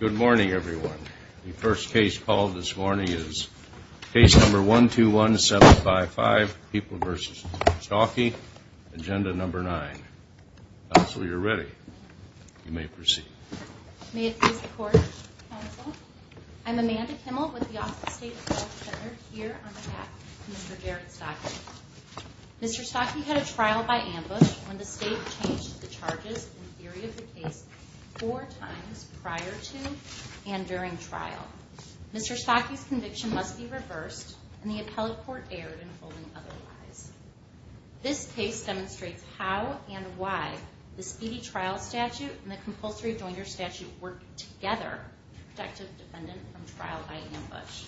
Good morning, everyone. The first case called this morning is case number 121755, People v. Staake, Agenda No. 9. Counsel, you're ready. You may proceed. May it please the Court, Counsel. I'm Amanda Kimmel with the Office of State Appeal Center here on behalf of Mr. Garrett Staake. Mr. Staake had a trial by ambush when the State changed the charges in theory of the case four times prior to and during trial. Mr. Staake's conviction must be reversed, and the appellate court erred in holding otherwise. This case demonstrates how and why the speedy trial statute and the compulsory jointer statute work together to protect a defendant from trial by ambush.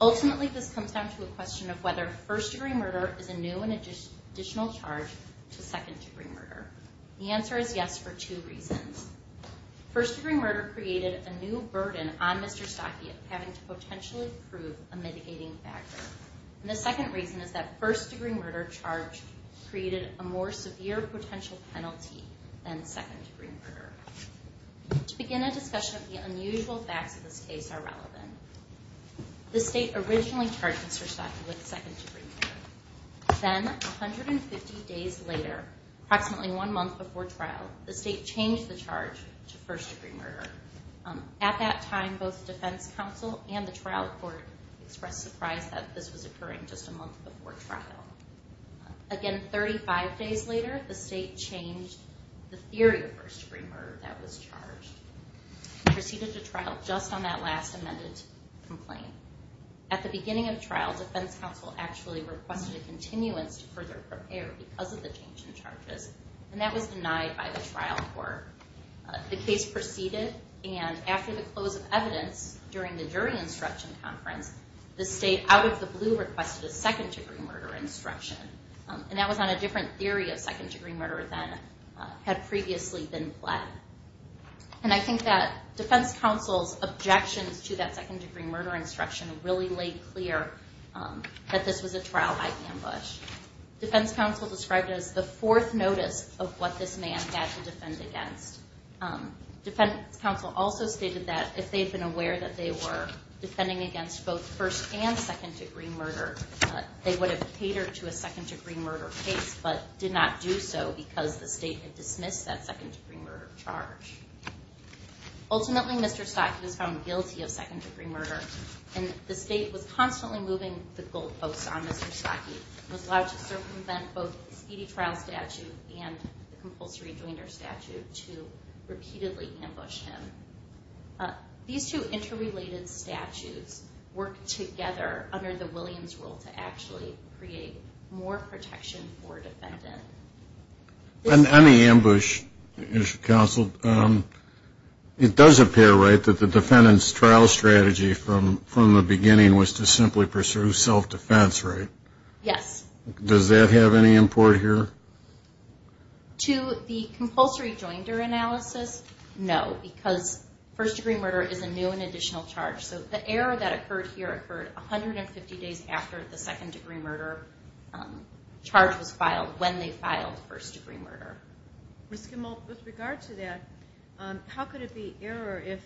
Ultimately, this comes down to a question of whether first-degree murder is a new and additional charge to second-degree murder. The answer is yes for two reasons. First-degree murder created a new burden on Mr. Staake of having to potentially prove a mitigating factor. And the second reason is that first-degree murder charge created a more severe potential penalty than second-degree murder. To begin a discussion of the unusual facts of this case are relevant. The State originally charged Mr. Staake with second-degree murder. Then, 150 days later, approximately one month before trial, the State changed the charge to first-degree murder. At that time, both defense counsel and the trial court expressed surprise that this was occurring just a month before trial. Again, 35 days later, the State changed the theory of first-degree murder that was charged and proceeded to trial just on that last amended complaint. At the beginning of trial, defense counsel actually requested a continuance to further prepare because of the change in charges, and that was denied by the trial court. The case proceeded, and after the close of evidence during the jury instruction conference, the State, out of the blue, requested a second-degree murder instruction. And that was on a different theory of second-degree murder than had previously been pled. And I think that defense counsel's objections to that second-degree murder instruction really laid clear that this was a trial-by-ambush. Defense counsel described it as the fourth notice of what this man had to defend against. Defense counsel also stated that if they had been aware that they were defending against both first- and second-degree murder, they would have catered to a second-degree murder case but did not do so because the State had dismissed that second-degree murder charge. Ultimately, Mr. Stotke was found guilty of second-degree murder, and the State was constantly moving the goalposts on Mr. Stotke. He was allowed to circumvent both the speedy trial statute and the compulsory joinder statute to repeatedly ambush him. These two interrelated statutes work together under the Williams rule to actually create more protection for a defendant. On the ambush issue, counsel, it does appear right that the defendant's trial strategy from the beginning was to simply pursue self-defense, right? Yes. Does that have any import here? To the compulsory joinder analysis, no, because first-degree murder is a new and additional charge. So the error that occurred here occurred 150 days after the second-degree murder charge was filed, when they filed first-degree murder. Ms. Kimball, with regard to that, how could it be error if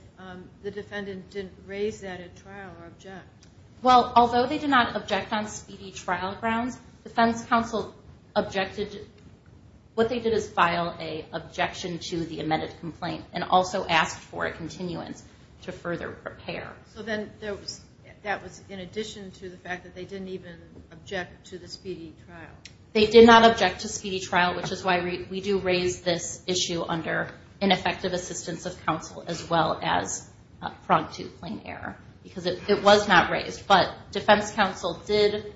the defendant didn't raise that at trial or object? Well, although they did not object on speedy trial grounds, defense counsel objected. What they did is file an objection to the amended complaint and also asked for a continuance to further repair. So then that was in addition to the fact that they didn't even object to the speedy trial? They did not object to speedy trial, which is why we do raise this issue under ineffective assistance of counsel as well as pronged to claim error, because it was not raised. But defense counsel did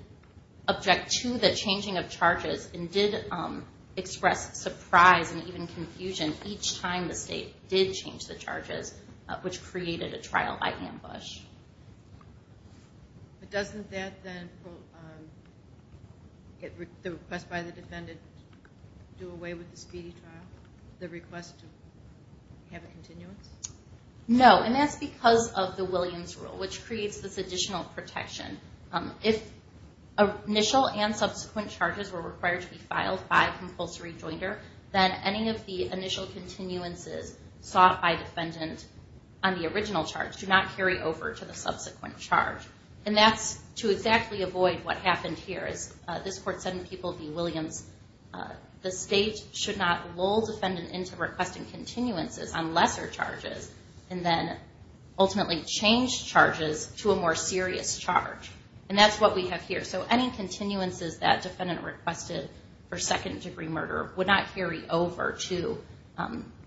object to the changing of charges and did express surprise and even confusion each time the state did change the charges, which created a trial by ambush. But doesn't that then get the request by the defendant to do away with the speedy trial, the request to have a continuance? No, and that's because of the Williams rule, which creates this additional protection. If initial and subsequent charges were required to be filed by compulsory jointer, then any of the initial continuances sought by defendant on the original charge do not carry over to the subsequent charge. And that's to exactly avoid what happened here. As this court said in People v. Williams, the state should not lull defendant into requesting continuances on lesser charges and then ultimately change charges to a more serious charge. And that's what we have here. So any continuances that defendant requested for second-degree murder would not carry over to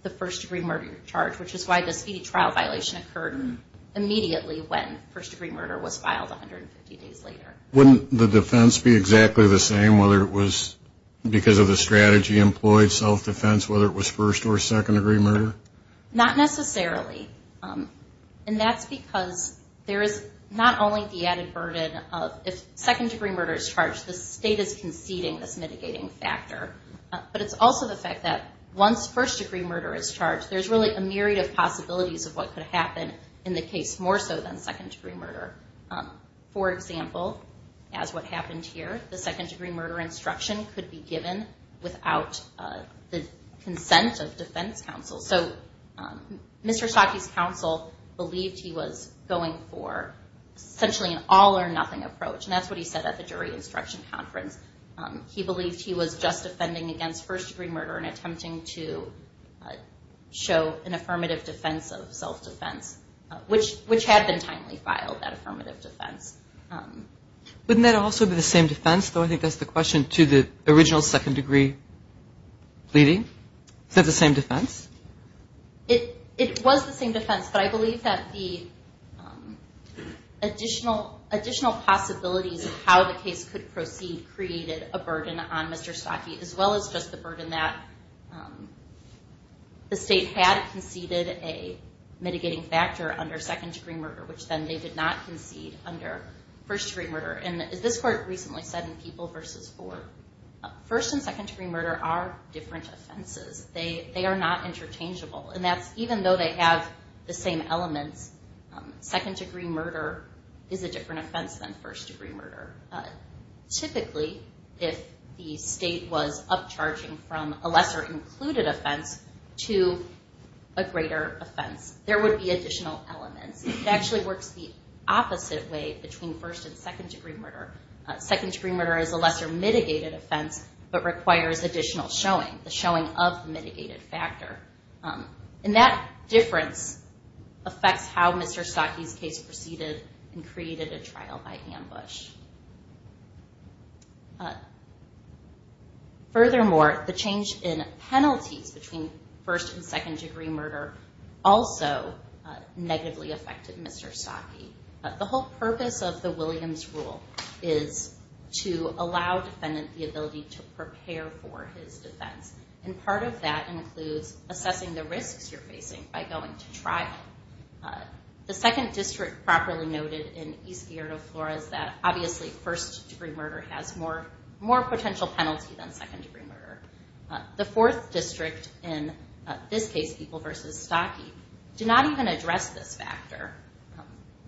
the first-degree murder charge, which is why the speedy trial violation occurred immediately when first-degree murder was filed 150 days later. Wouldn't the defense be exactly the same, whether it was because of the strategy employed, self-defense, whether it was first- or second-degree murder? Not necessarily. And that's because there is not only the added burden of if second-degree murder is charged, the state is conceding this mitigating factor. But it's also the fact that once first-degree murder is charged, there's really a myriad of possibilities of what could happen in the case more so than second-degree murder. For example, as what happened here, the second-degree murder instruction could be given without the consent of defense counsel. So Mr. Shockey's counsel believed he was going for essentially an all-or-nothing approach, and that's what he said at the jury instruction conference. He believed he was just offending against first-degree murder to show an affirmative defense of self-defense, which had been timely filed, that affirmative defense. Wouldn't that also be the same defense, though? I think that's the question to the original second-degree pleading. Is that the same defense? It was the same defense, but I believe that the additional possibilities of how the case could proceed created a burden on Mr. The state had conceded a mitigating factor under second-degree murder, which then they did not concede under first-degree murder. And as this court recently said in People v. Ford, first- and second-degree murder are different offenses. They are not interchangeable, and that's even though they have the same elements, second-degree murder is a different offense than first-degree murder. Typically, if the state was upcharging from a lesser-included offense to a greater offense, there would be additional elements. It actually works the opposite way between first- and second-degree murder. Second-degree murder is a lesser-mitigated offense but requires additional showing, the showing of the mitigated factor. And that difference affects how Mr. Stockey's case proceeded and created a trial by ambush. Furthermore, the change in penalties between first- and second-degree murder also negatively affected Mr. Stockey. The whole purpose of the Williams rule is to allow defendant the ability to prepare for his defense, and part of that includes assessing the risks you're facing by going to trial. The second district properly noted in East Theodore Flores that, obviously, first-degree murder has more potential penalty than second-degree murder. The fourth district in this case, People v. Stockey, did not even address this factor.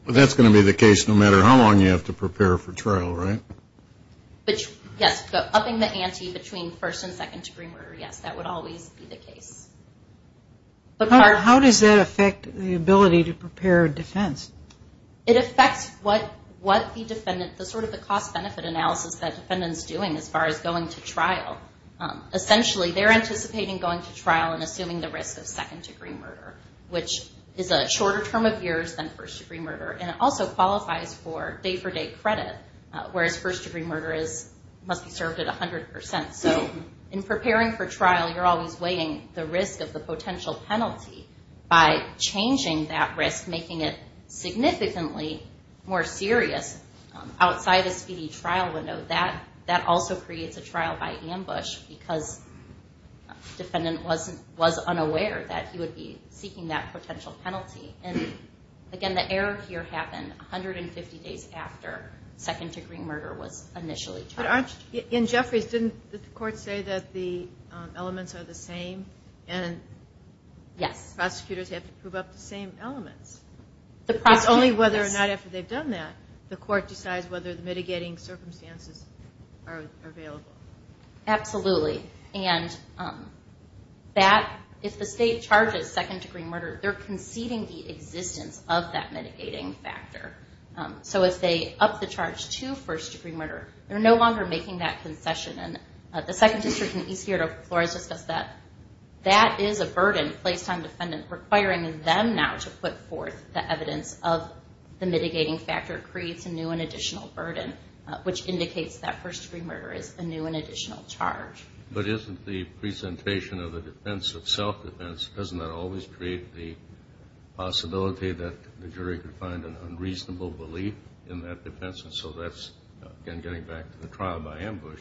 But that's going to be the case no matter how long you have to prepare for trial, right? Yes, upping the ante between first- and second-degree murder, yes, that would always be the case. How does that affect the ability to prepare a defense? It affects what the cost-benefit analysis that defendant's doing as far as going to trial. Essentially, they're anticipating going to trial and assuming the risk of second-degree murder, which is a shorter term of years than first-degree murder, and it also qualifies for day-for-day credit, whereas first-degree murder must be served at 100 percent. So in preparing for trial, you're always weighing the risk of the potential penalty. By changing that risk, making it significantly more serious outside a speedy trial window, that also creates a trial by ambush because defendant was unaware that he would be seeking that potential penalty. Again, the error here happened 150 days after second-degree murder was initially charged. In Jeffries, didn't the court say that the elements are the same and prosecutors have to prove up the same elements? It's only whether or not after they've done that the court decides whether the mitigating circumstances are available. Absolutely. If the state charges second-degree murder, they're conceding the existence of that mitigating factor. So if they up the charge to first-degree murder, they're no longer making that concession. The Second District and East Yard of Flores discussed that. That is a burden placed on defendant, requiring them now to put forth the evidence of the mitigating factor creates a new and additional burden, which indicates that first-degree murder is a new and additional charge. But isn't the presentation of the defense of self-defense, doesn't that always create the possibility that the jury could find an unreasonable belief in that defense? And so that's, again, getting back to the trial by ambush,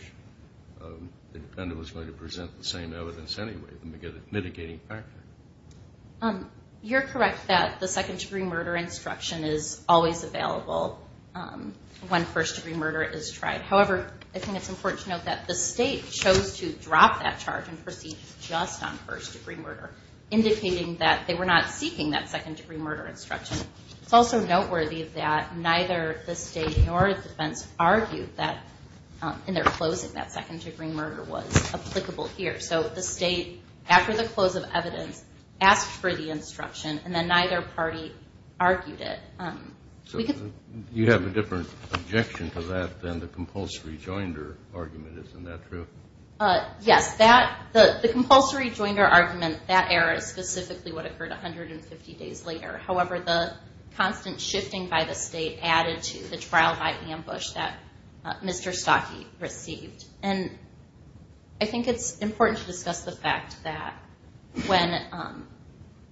the defendant was going to present the same evidence anyway, the mitigating factor. You're correct that the second-degree murder instruction is always available when first-degree murder is tried. However, I think it's important to note that the state chose to drop that charge and proceed just on first-degree murder, indicating that they were not seeking that second-degree murder instruction. It's also noteworthy that neither the state nor the defense argued that in their closing that second-degree murder was applicable here. So the state, after the close of evidence, asked for the instruction, and then neither party argued it. So you have a different objection to that than the compulsory joinder argument. Isn't that true? Yes. The compulsory joinder argument, that error is specifically what occurred 150 days later. However, the constant shifting by the state added to the trial by ambush that Mr. Stockey received. And I think it's important to discuss the fact that when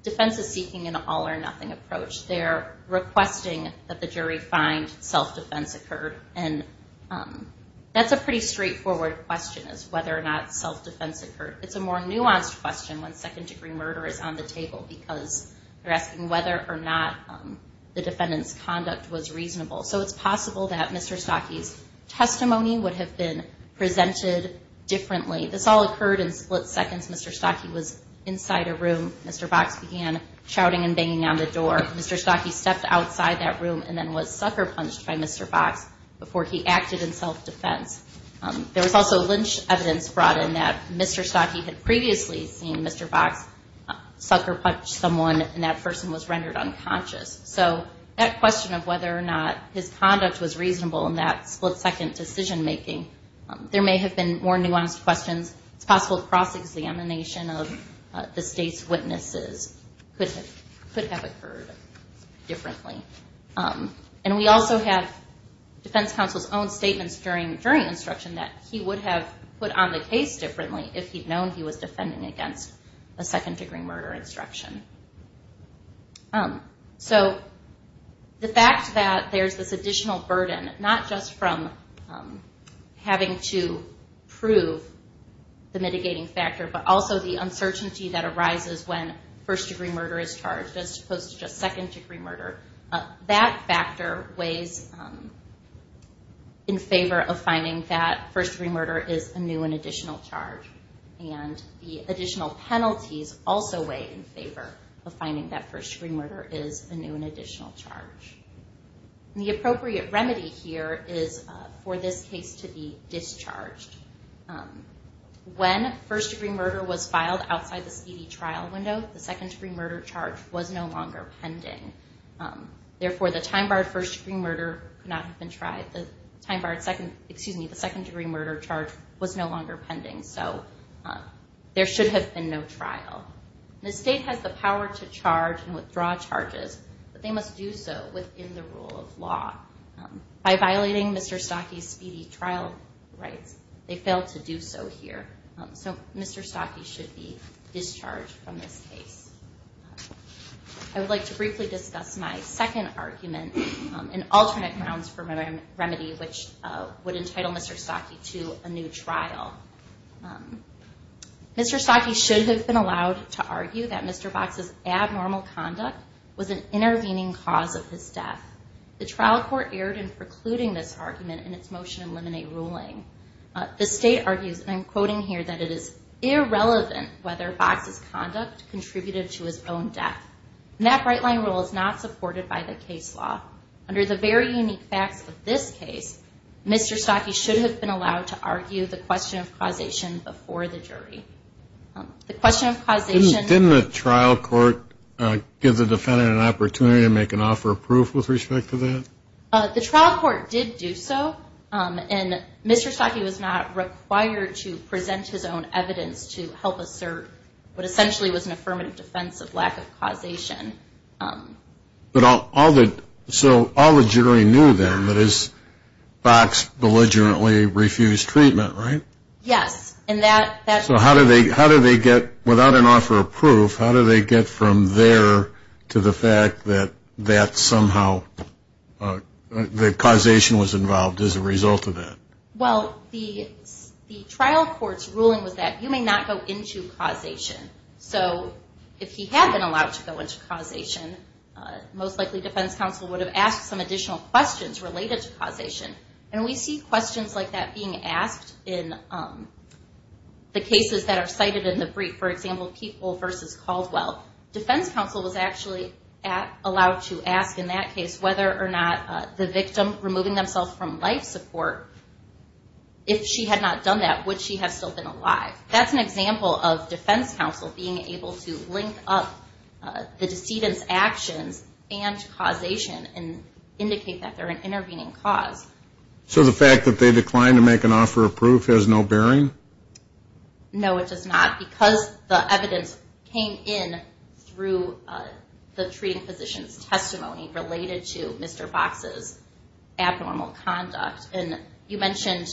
defense is seeking an all-or-nothing approach, they're requesting that the jury find self-defense occurred. And that's a pretty straightforward question, is whether or not self-defense occurred. It's a more nuanced question when second-degree murder is on the table, because they're asking whether or not the defendant's conduct was reasonable. So it's possible that Mr. Stockey's testimony would have been presented differently. This all occurred in split seconds. Mr. Stockey was inside a room. Mr. Box began shouting and banging on the door. Mr. Stockey stepped outside that room and then was sucker-punched by Mr. Box before he acted in self-defense. There was also lynch evidence brought in that Mr. Stockey had previously seen Mr. Box sucker-punch someone, and that person was rendered unconscious. So that question of whether or not his conduct was reasonable in that split-second decision-making, there may have been more nuanced questions. It's possible cross-examination of the state's witnesses could have occurred differently. And we also have defense counsel's own statements during instruction that he would have put on the case differently if he'd known he was defending against a second-degree murder instruction. So the fact that there's this additional burden, not just from having to prove the mitigating factor, but also the uncertainty that arises when first-degree murder is charged as opposed to just second-degree murder, that factor weighs in favor of finding that first-degree murder is a new and additional charge. And the additional penalties also weigh in favor of finding that first-degree murder is a new and additional charge. The appropriate remedy here is for this case to be discharged. When first-degree murder was filed outside the speedy trial window, the second-degree murder charge was no longer pending. Therefore, the time-barred second-degree murder charge was no longer pending. So there should have been no trial. The state has the power to charge and withdraw charges, but they must do so within the rule of law. By violating Mr. Stocke's speedy trial rights, they failed to do so here. So Mr. Stocke should be discharged from this case. I would like to briefly discuss my second argument in alternate grounds for remedy, which would entitle Mr. Stocke to a new trial. Mr. Stocke should have been allowed to argue that Mr. Box's abnormal conduct was an intervening cause of his death. The trial court erred in precluding this argument in its motion eliminate ruling. The state argues, and I'm quoting here, that it is irrelevant whether Box's conduct contributed to his own death. And that right-line rule is not supported by the case law. Under the very unique facts of this case, Mr. Stocke should have been allowed to argue the question of causation before the jury. The question of causation... Mr. Stocke was not required to present his own evidence to help assert what essentially was an affirmative defense of lack of causation. But all the... so all the jury knew then that is Box belligerently refused treatment, right? Yes, and that... So how do they get, without an offer of proof, how do they get from there to the fact that somehow the causation was involved as a result of that? Well, the trial court's ruling was that you may not go into causation. So if he had been allowed to go into causation, most likely defense counsel would have asked some additional questions related to causation. And we see questions like that being asked in the cases that are cited in the brief. For example, Keepwell versus Caldwell. Defense counsel was actually allowed to ask in that case whether or not the victim removing themselves from life support, if she had not done that, would she have still been alive? That's an example of defense counsel being able to link up the decedent's actions and causation and indicate that they're an intervening cause. So the fact that they declined to make an offer of proof has no bearing? No, it does not, because the evidence came in through the treating physician's testimony related to Mr. Box's abnormal conduct. And you mentioned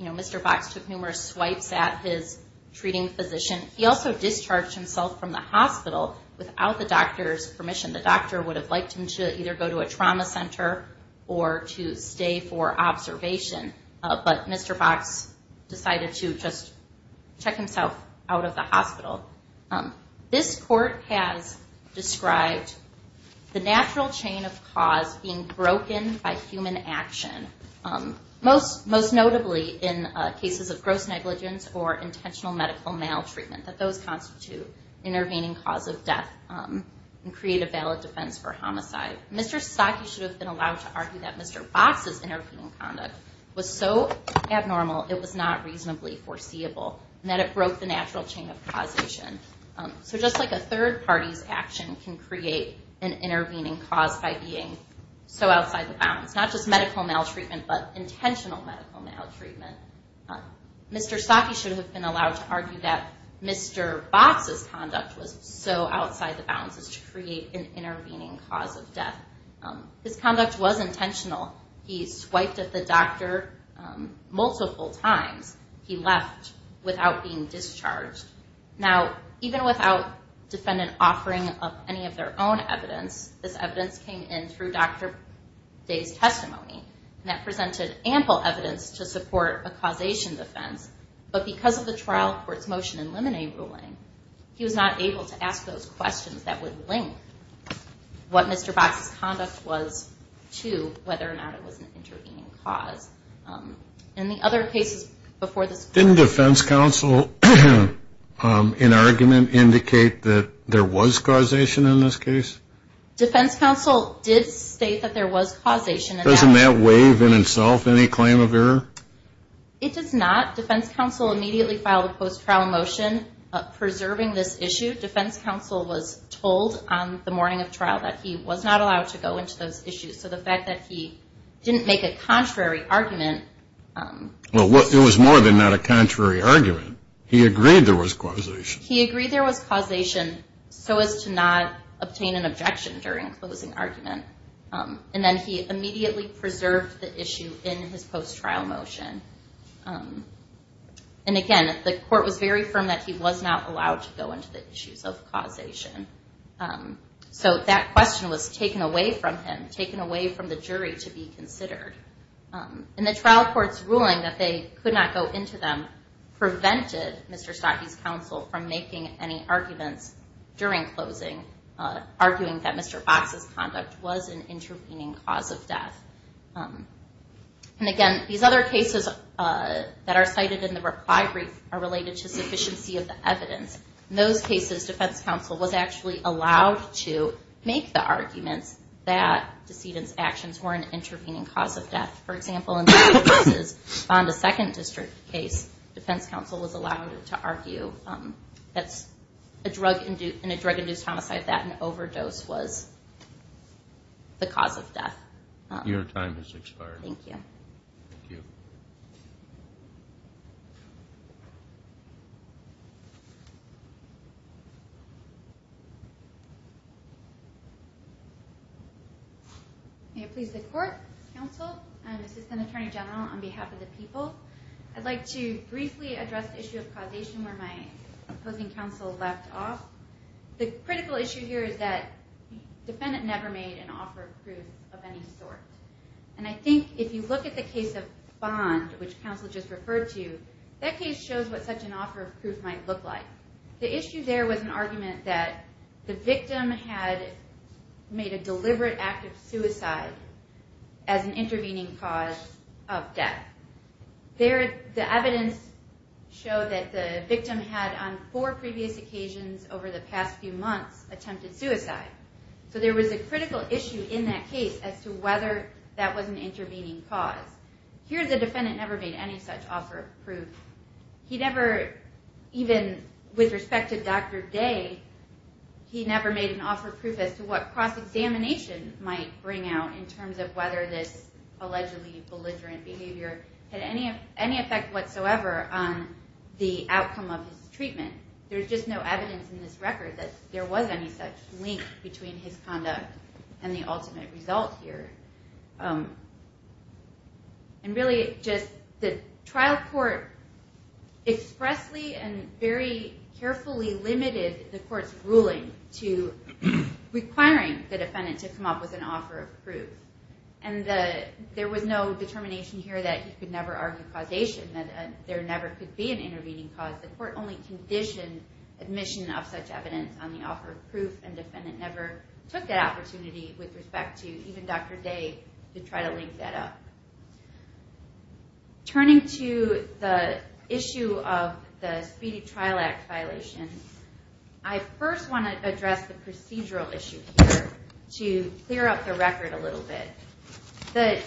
Mr. Box took numerous swipes at his treating physician. He also discharged himself from the hospital without the doctor's permission. The doctor would have liked him to either go to a trauma center or to stay for observation. But Mr. Box decided to just check himself out of the hospital. This court has described the natural chain of cause being broken by human action. Most notably in cases of gross negligence or intentional medical maltreatment. That those constitute intervening cause of death and create a valid defense for homicide. Mr. Saki should have been allowed to argue that Mr. Box's intervening conduct was so abnormal it was not reasonably foreseeable, and that it broke the natural chain of causation. So just like a third party's action can create an intervening cause by being so outside the bounds, not just medical maltreatment, but intentional medical maltreatment. Mr. Saki should have been allowed to argue that Mr. Box's conduct was so outside the bounds as to create an intervening cause of death. His conduct was intentional. He swiped at the doctor multiple times. He left without being discharged. Now even without defendant offering up any of their own evidence, this evidence came in through Dr. Day's testimony. And that presented ample evidence to support a causation defense. But because of the trial court's motion in limine ruling, he was not able to ask those questions that would link what Mr. Box's conduct was to whether or not it was an intervening cause. In the other cases before this court... Didn't defense counsel in argument indicate that there was causation in this case? Defense counsel did state that there was causation. Doesn't that waive in itself any claim of error? It does not. Defense counsel immediately filed a post-trial motion preserving this issue. Defense counsel was told on the morning of trial that he was not allowed to go into those issues. So the fact that he didn't make a contrary argument... Well, it was more than not a contrary argument. He agreed there was causation. He agreed there was causation so as to not obtain an objection during closing argument. And then he immediately preserved the issue in his post-trial motion. And again, the court was very firm that he was not allowed to go into the issues of causation. So that question was taken away from him, taken away from the jury to be considered. And the trial court's ruling that they could not go into them prevented Mr. Stotke's counsel from making any arguments during closing, arguing that Mr. Box's conduct was an intervening cause of death. And again, these other cases that are cited in the reply brief are related to sufficiency of the evidence. In those cases, defense counsel was actually allowed to make the arguments that DeSedan's actions were an intervening cause of death. For example, in DeSedan's Fonda Second District case, defense counsel was allowed to argue that in a drug-induced homicide that an overdose was the cause of death. And again, this is a case where time has expired. May it please the court, counsel, assistant attorney general, and on behalf of the people, I'd like to briefly address the issue of causation where my opposing counsel left off. The critical issue here is that the defendant never made an offer of proof of any sort. And I think if you look at the case of Bond, which counsel just referred to, that case shows what such an offer of proof might look like. The issue there was an argument that the victim had made a deliberate act of suicide as an intervening cause of death. The evidence showed that the victim had, on four previous occasions over the past few months, attempted suicide. So there was a critical issue in that case as to whether that was an intervening cause. Here the defendant never made any such offer of proof. He never, even with respect to Dr. Day, he never made an offer of proof as to what cross-examination might bring out in terms of whether this allegedly belligerent behavior had any effect whatsoever on the outcome of his treatment. There's just no evidence in this record that there was any such link between his conduct and the ultimate result here. And really, just the trial court expressly and very carefully limited the court's ruling to requiring the defendant to come up with an offer of proof. And there was no determination here that he could never argue causation, that there never could be an intervening cause. The court only conditioned admission of such evidence on the offer of proof, and the defendant never took that opportunity with respect to even Dr. Day to try to link that up. Turning to the issue of the Speedy Trial Act violation, I first want to address the procedural issue here to clear up the record a little bit. The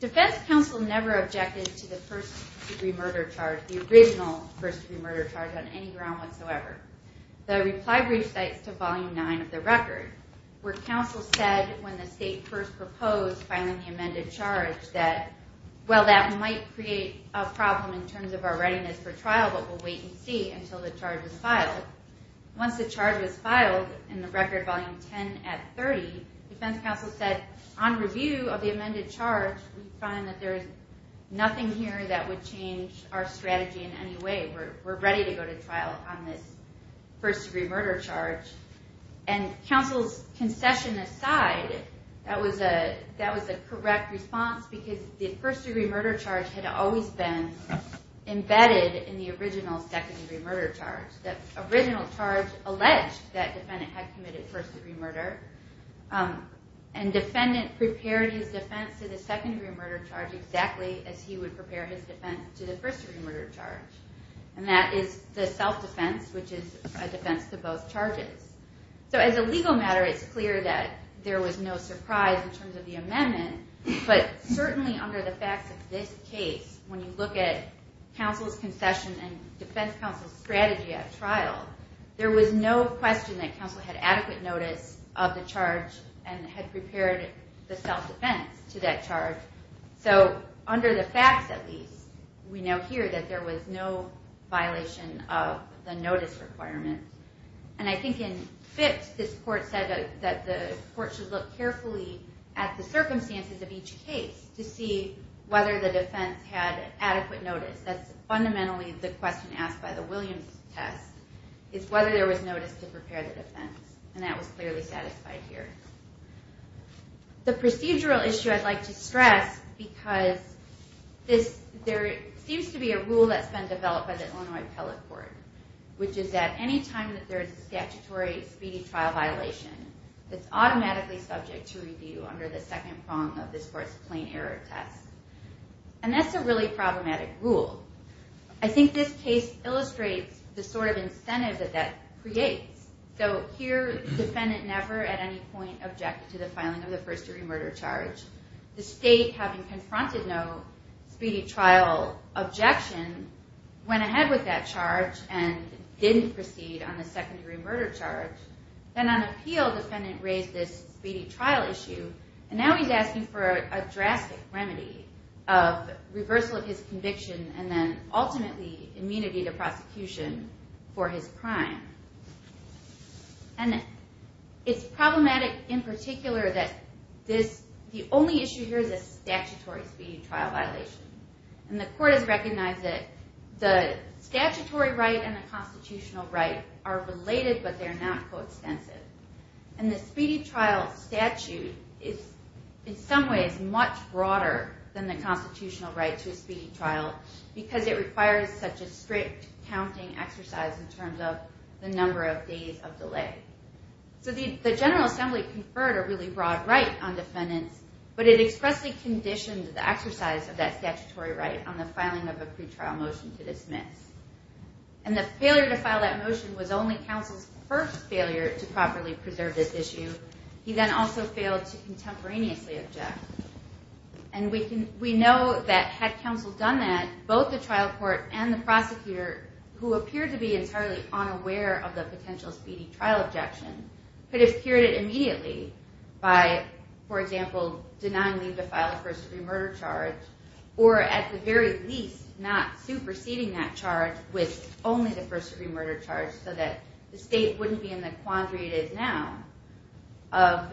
defense counsel never objected to the first-degree murder charge, the original first-degree murder charge, on any ground whatsoever. The reply brief cites to Volume 9 of the record, where counsel said when the state first proposed filing the amended charge that, well, that might create a problem in terms of our readiness for trial, but we'll wait and see until the charge is filed. Once the charge was filed in the record Volume 10 at 30, defense counsel said on review of the amended charge, we find that there's nothing here that would change our strategy in any way. We're ready to go to trial on this first-degree murder charge. And counsel's concession aside, that was a correct response because the first-degree murder charge had always been embedded in the original second-degree murder charge. The original charge alleged that defendant had committed first-degree murder, and defendant prepared his defense to the second-degree murder charge exactly as he would prepare his defense to the first-degree murder charge. And that is the self-defense, which is a defense to both charges. So as a legal matter, it's clear that there was no surprise in terms of the amendment, but certainly under the facts of this case, when you look at counsel's concession and defense counsel's strategy at trial, there was no question that counsel had adequate notice of the charge and had prepared the self-defense to that charge. So under the facts, at least, we now hear that there was no violation of the notice requirement. And I think in FIPS, this court said that the court should look carefully at the circumstances of each case to see whether the defense had adequate notice. That's fundamentally the question asked by the Williams test, is whether there was notice to prepare the defense. And that was clearly satisfied here. The procedural issue I'd like to stress, because there seems to be a rule that's been developed by the Illinois Appellate Court, which is that any time that there is a statutory speedy trial violation, it's automatically subject to review under the second prong of this court's plain error test. And that's a really problematic rule. I think this case illustrates the sort of incentive that that creates. So here, the defendant never at any point objected to the filing of the first-degree murder charge. The state, having confronted no speedy trial objection, went ahead with that charge and didn't proceed on the second-degree murder charge. Then on appeal, the defendant raised this speedy trial issue, and now he's asking for a drastic remedy of reversal of his conviction and then ultimately immunity to prosecution for his crime. And it's problematic in particular that the only issue here is a statutory speedy trial violation. And the court has recognized that the statutory right and the constitutional right are related, but they're not coextensive. And the speedy trial statute is in some ways much broader than the constitutional right to a speedy trial because it requires such a strict counting exercise in terms of the number of days of delay. So the General Assembly conferred a really broad right on defendants, but it expressly conditioned the exercise of that statutory right on the filing of a pretrial motion to dismiss. And the failure to file that motion was only counsel's first failure to properly preserve this issue. He then also failed to contemporaneously object. And we know that had counsel done that, both the trial court and the prosecutor, who appeared to be entirely unaware of the potential speedy trial objection, could have cured it immediately by, for example, denying Lee to file a first-degree murder charge or at the very least not superseding that charge with only the first-degree murder charge so that the state wouldn't be in the quandary it is now of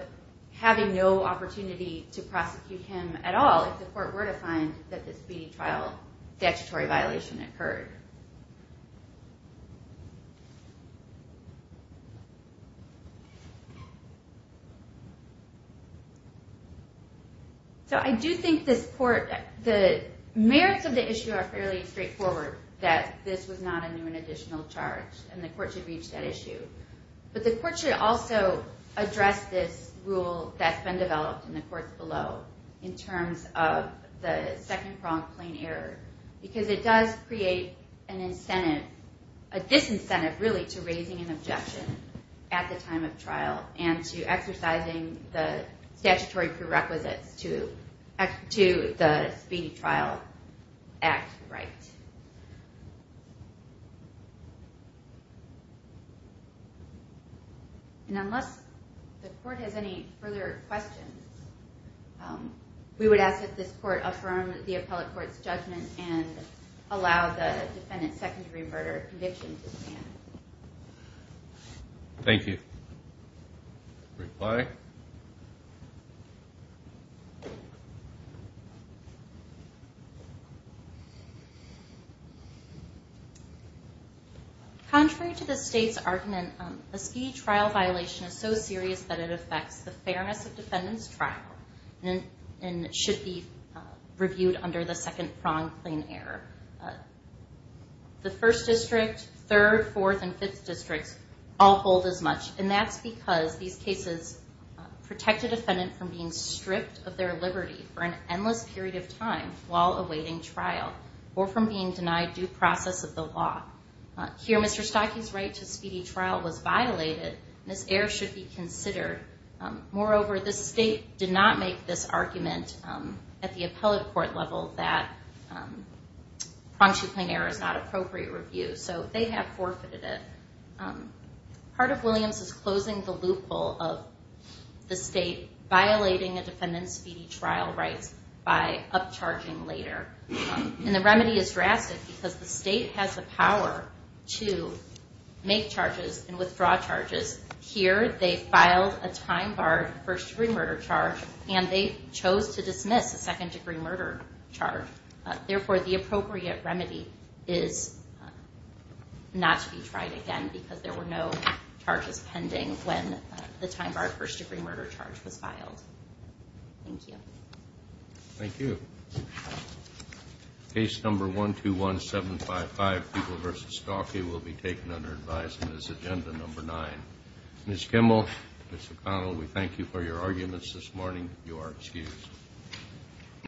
having no opportunity to prosecute him at all if the court were to find that the speedy trial statutory violation occurred. So I do think the merits of the issue are fairly straightforward, that this was not a new and additional charge and the court should reach that issue. But the court should also address this rule that's been developed in the courts below in terms of the second-pronged plain error because it does create a disincentive really to raising an objection at the time of trial and to exercising the statutory prerequisites to the speedy trial act right. And unless the court has any further questions, we would ask that this court affirm the appellate court's judgment and allow the defendant's second-degree murder conviction to stand. Thank you. Reply. Contrary to the state's argument, a speedy trial violation is so serious that it affects the fairness of defendant's trial and should be reviewed under the second-pronged plain error. The First District, Third, Fourth, and Fifth Districts all hold as much and that's because these cases protect a defendant from being stripped of their liberty for an endless period of time while awaiting trial or from being denied due process of the law. Here, Mr. Stockey's right to speedy trial was violated and this error should be considered. Moreover, the state did not make this argument at the appellate court level that pronged two-plane error is not appropriate review. So they have forfeited it. Part of Williams is closing the loophole of the state violating a defendant's speedy trial rights by upcharging later. And the remedy is drastic because the state has the power to make charges and withdraw charges. Here, they filed a time-barred first-degree murder charge and they chose to dismiss a second-degree murder charge. Therefore, the appropriate remedy is not to be tried again because there were no charges pending when the time-barred first-degree murder charge was filed. Thank you. Thank you. Case number 121755, People v. Stockey, will be taken under advisement as agenda number nine. Ms. Kimmel, Mr. Connell, we thank you for your arguments this morning. You are excused.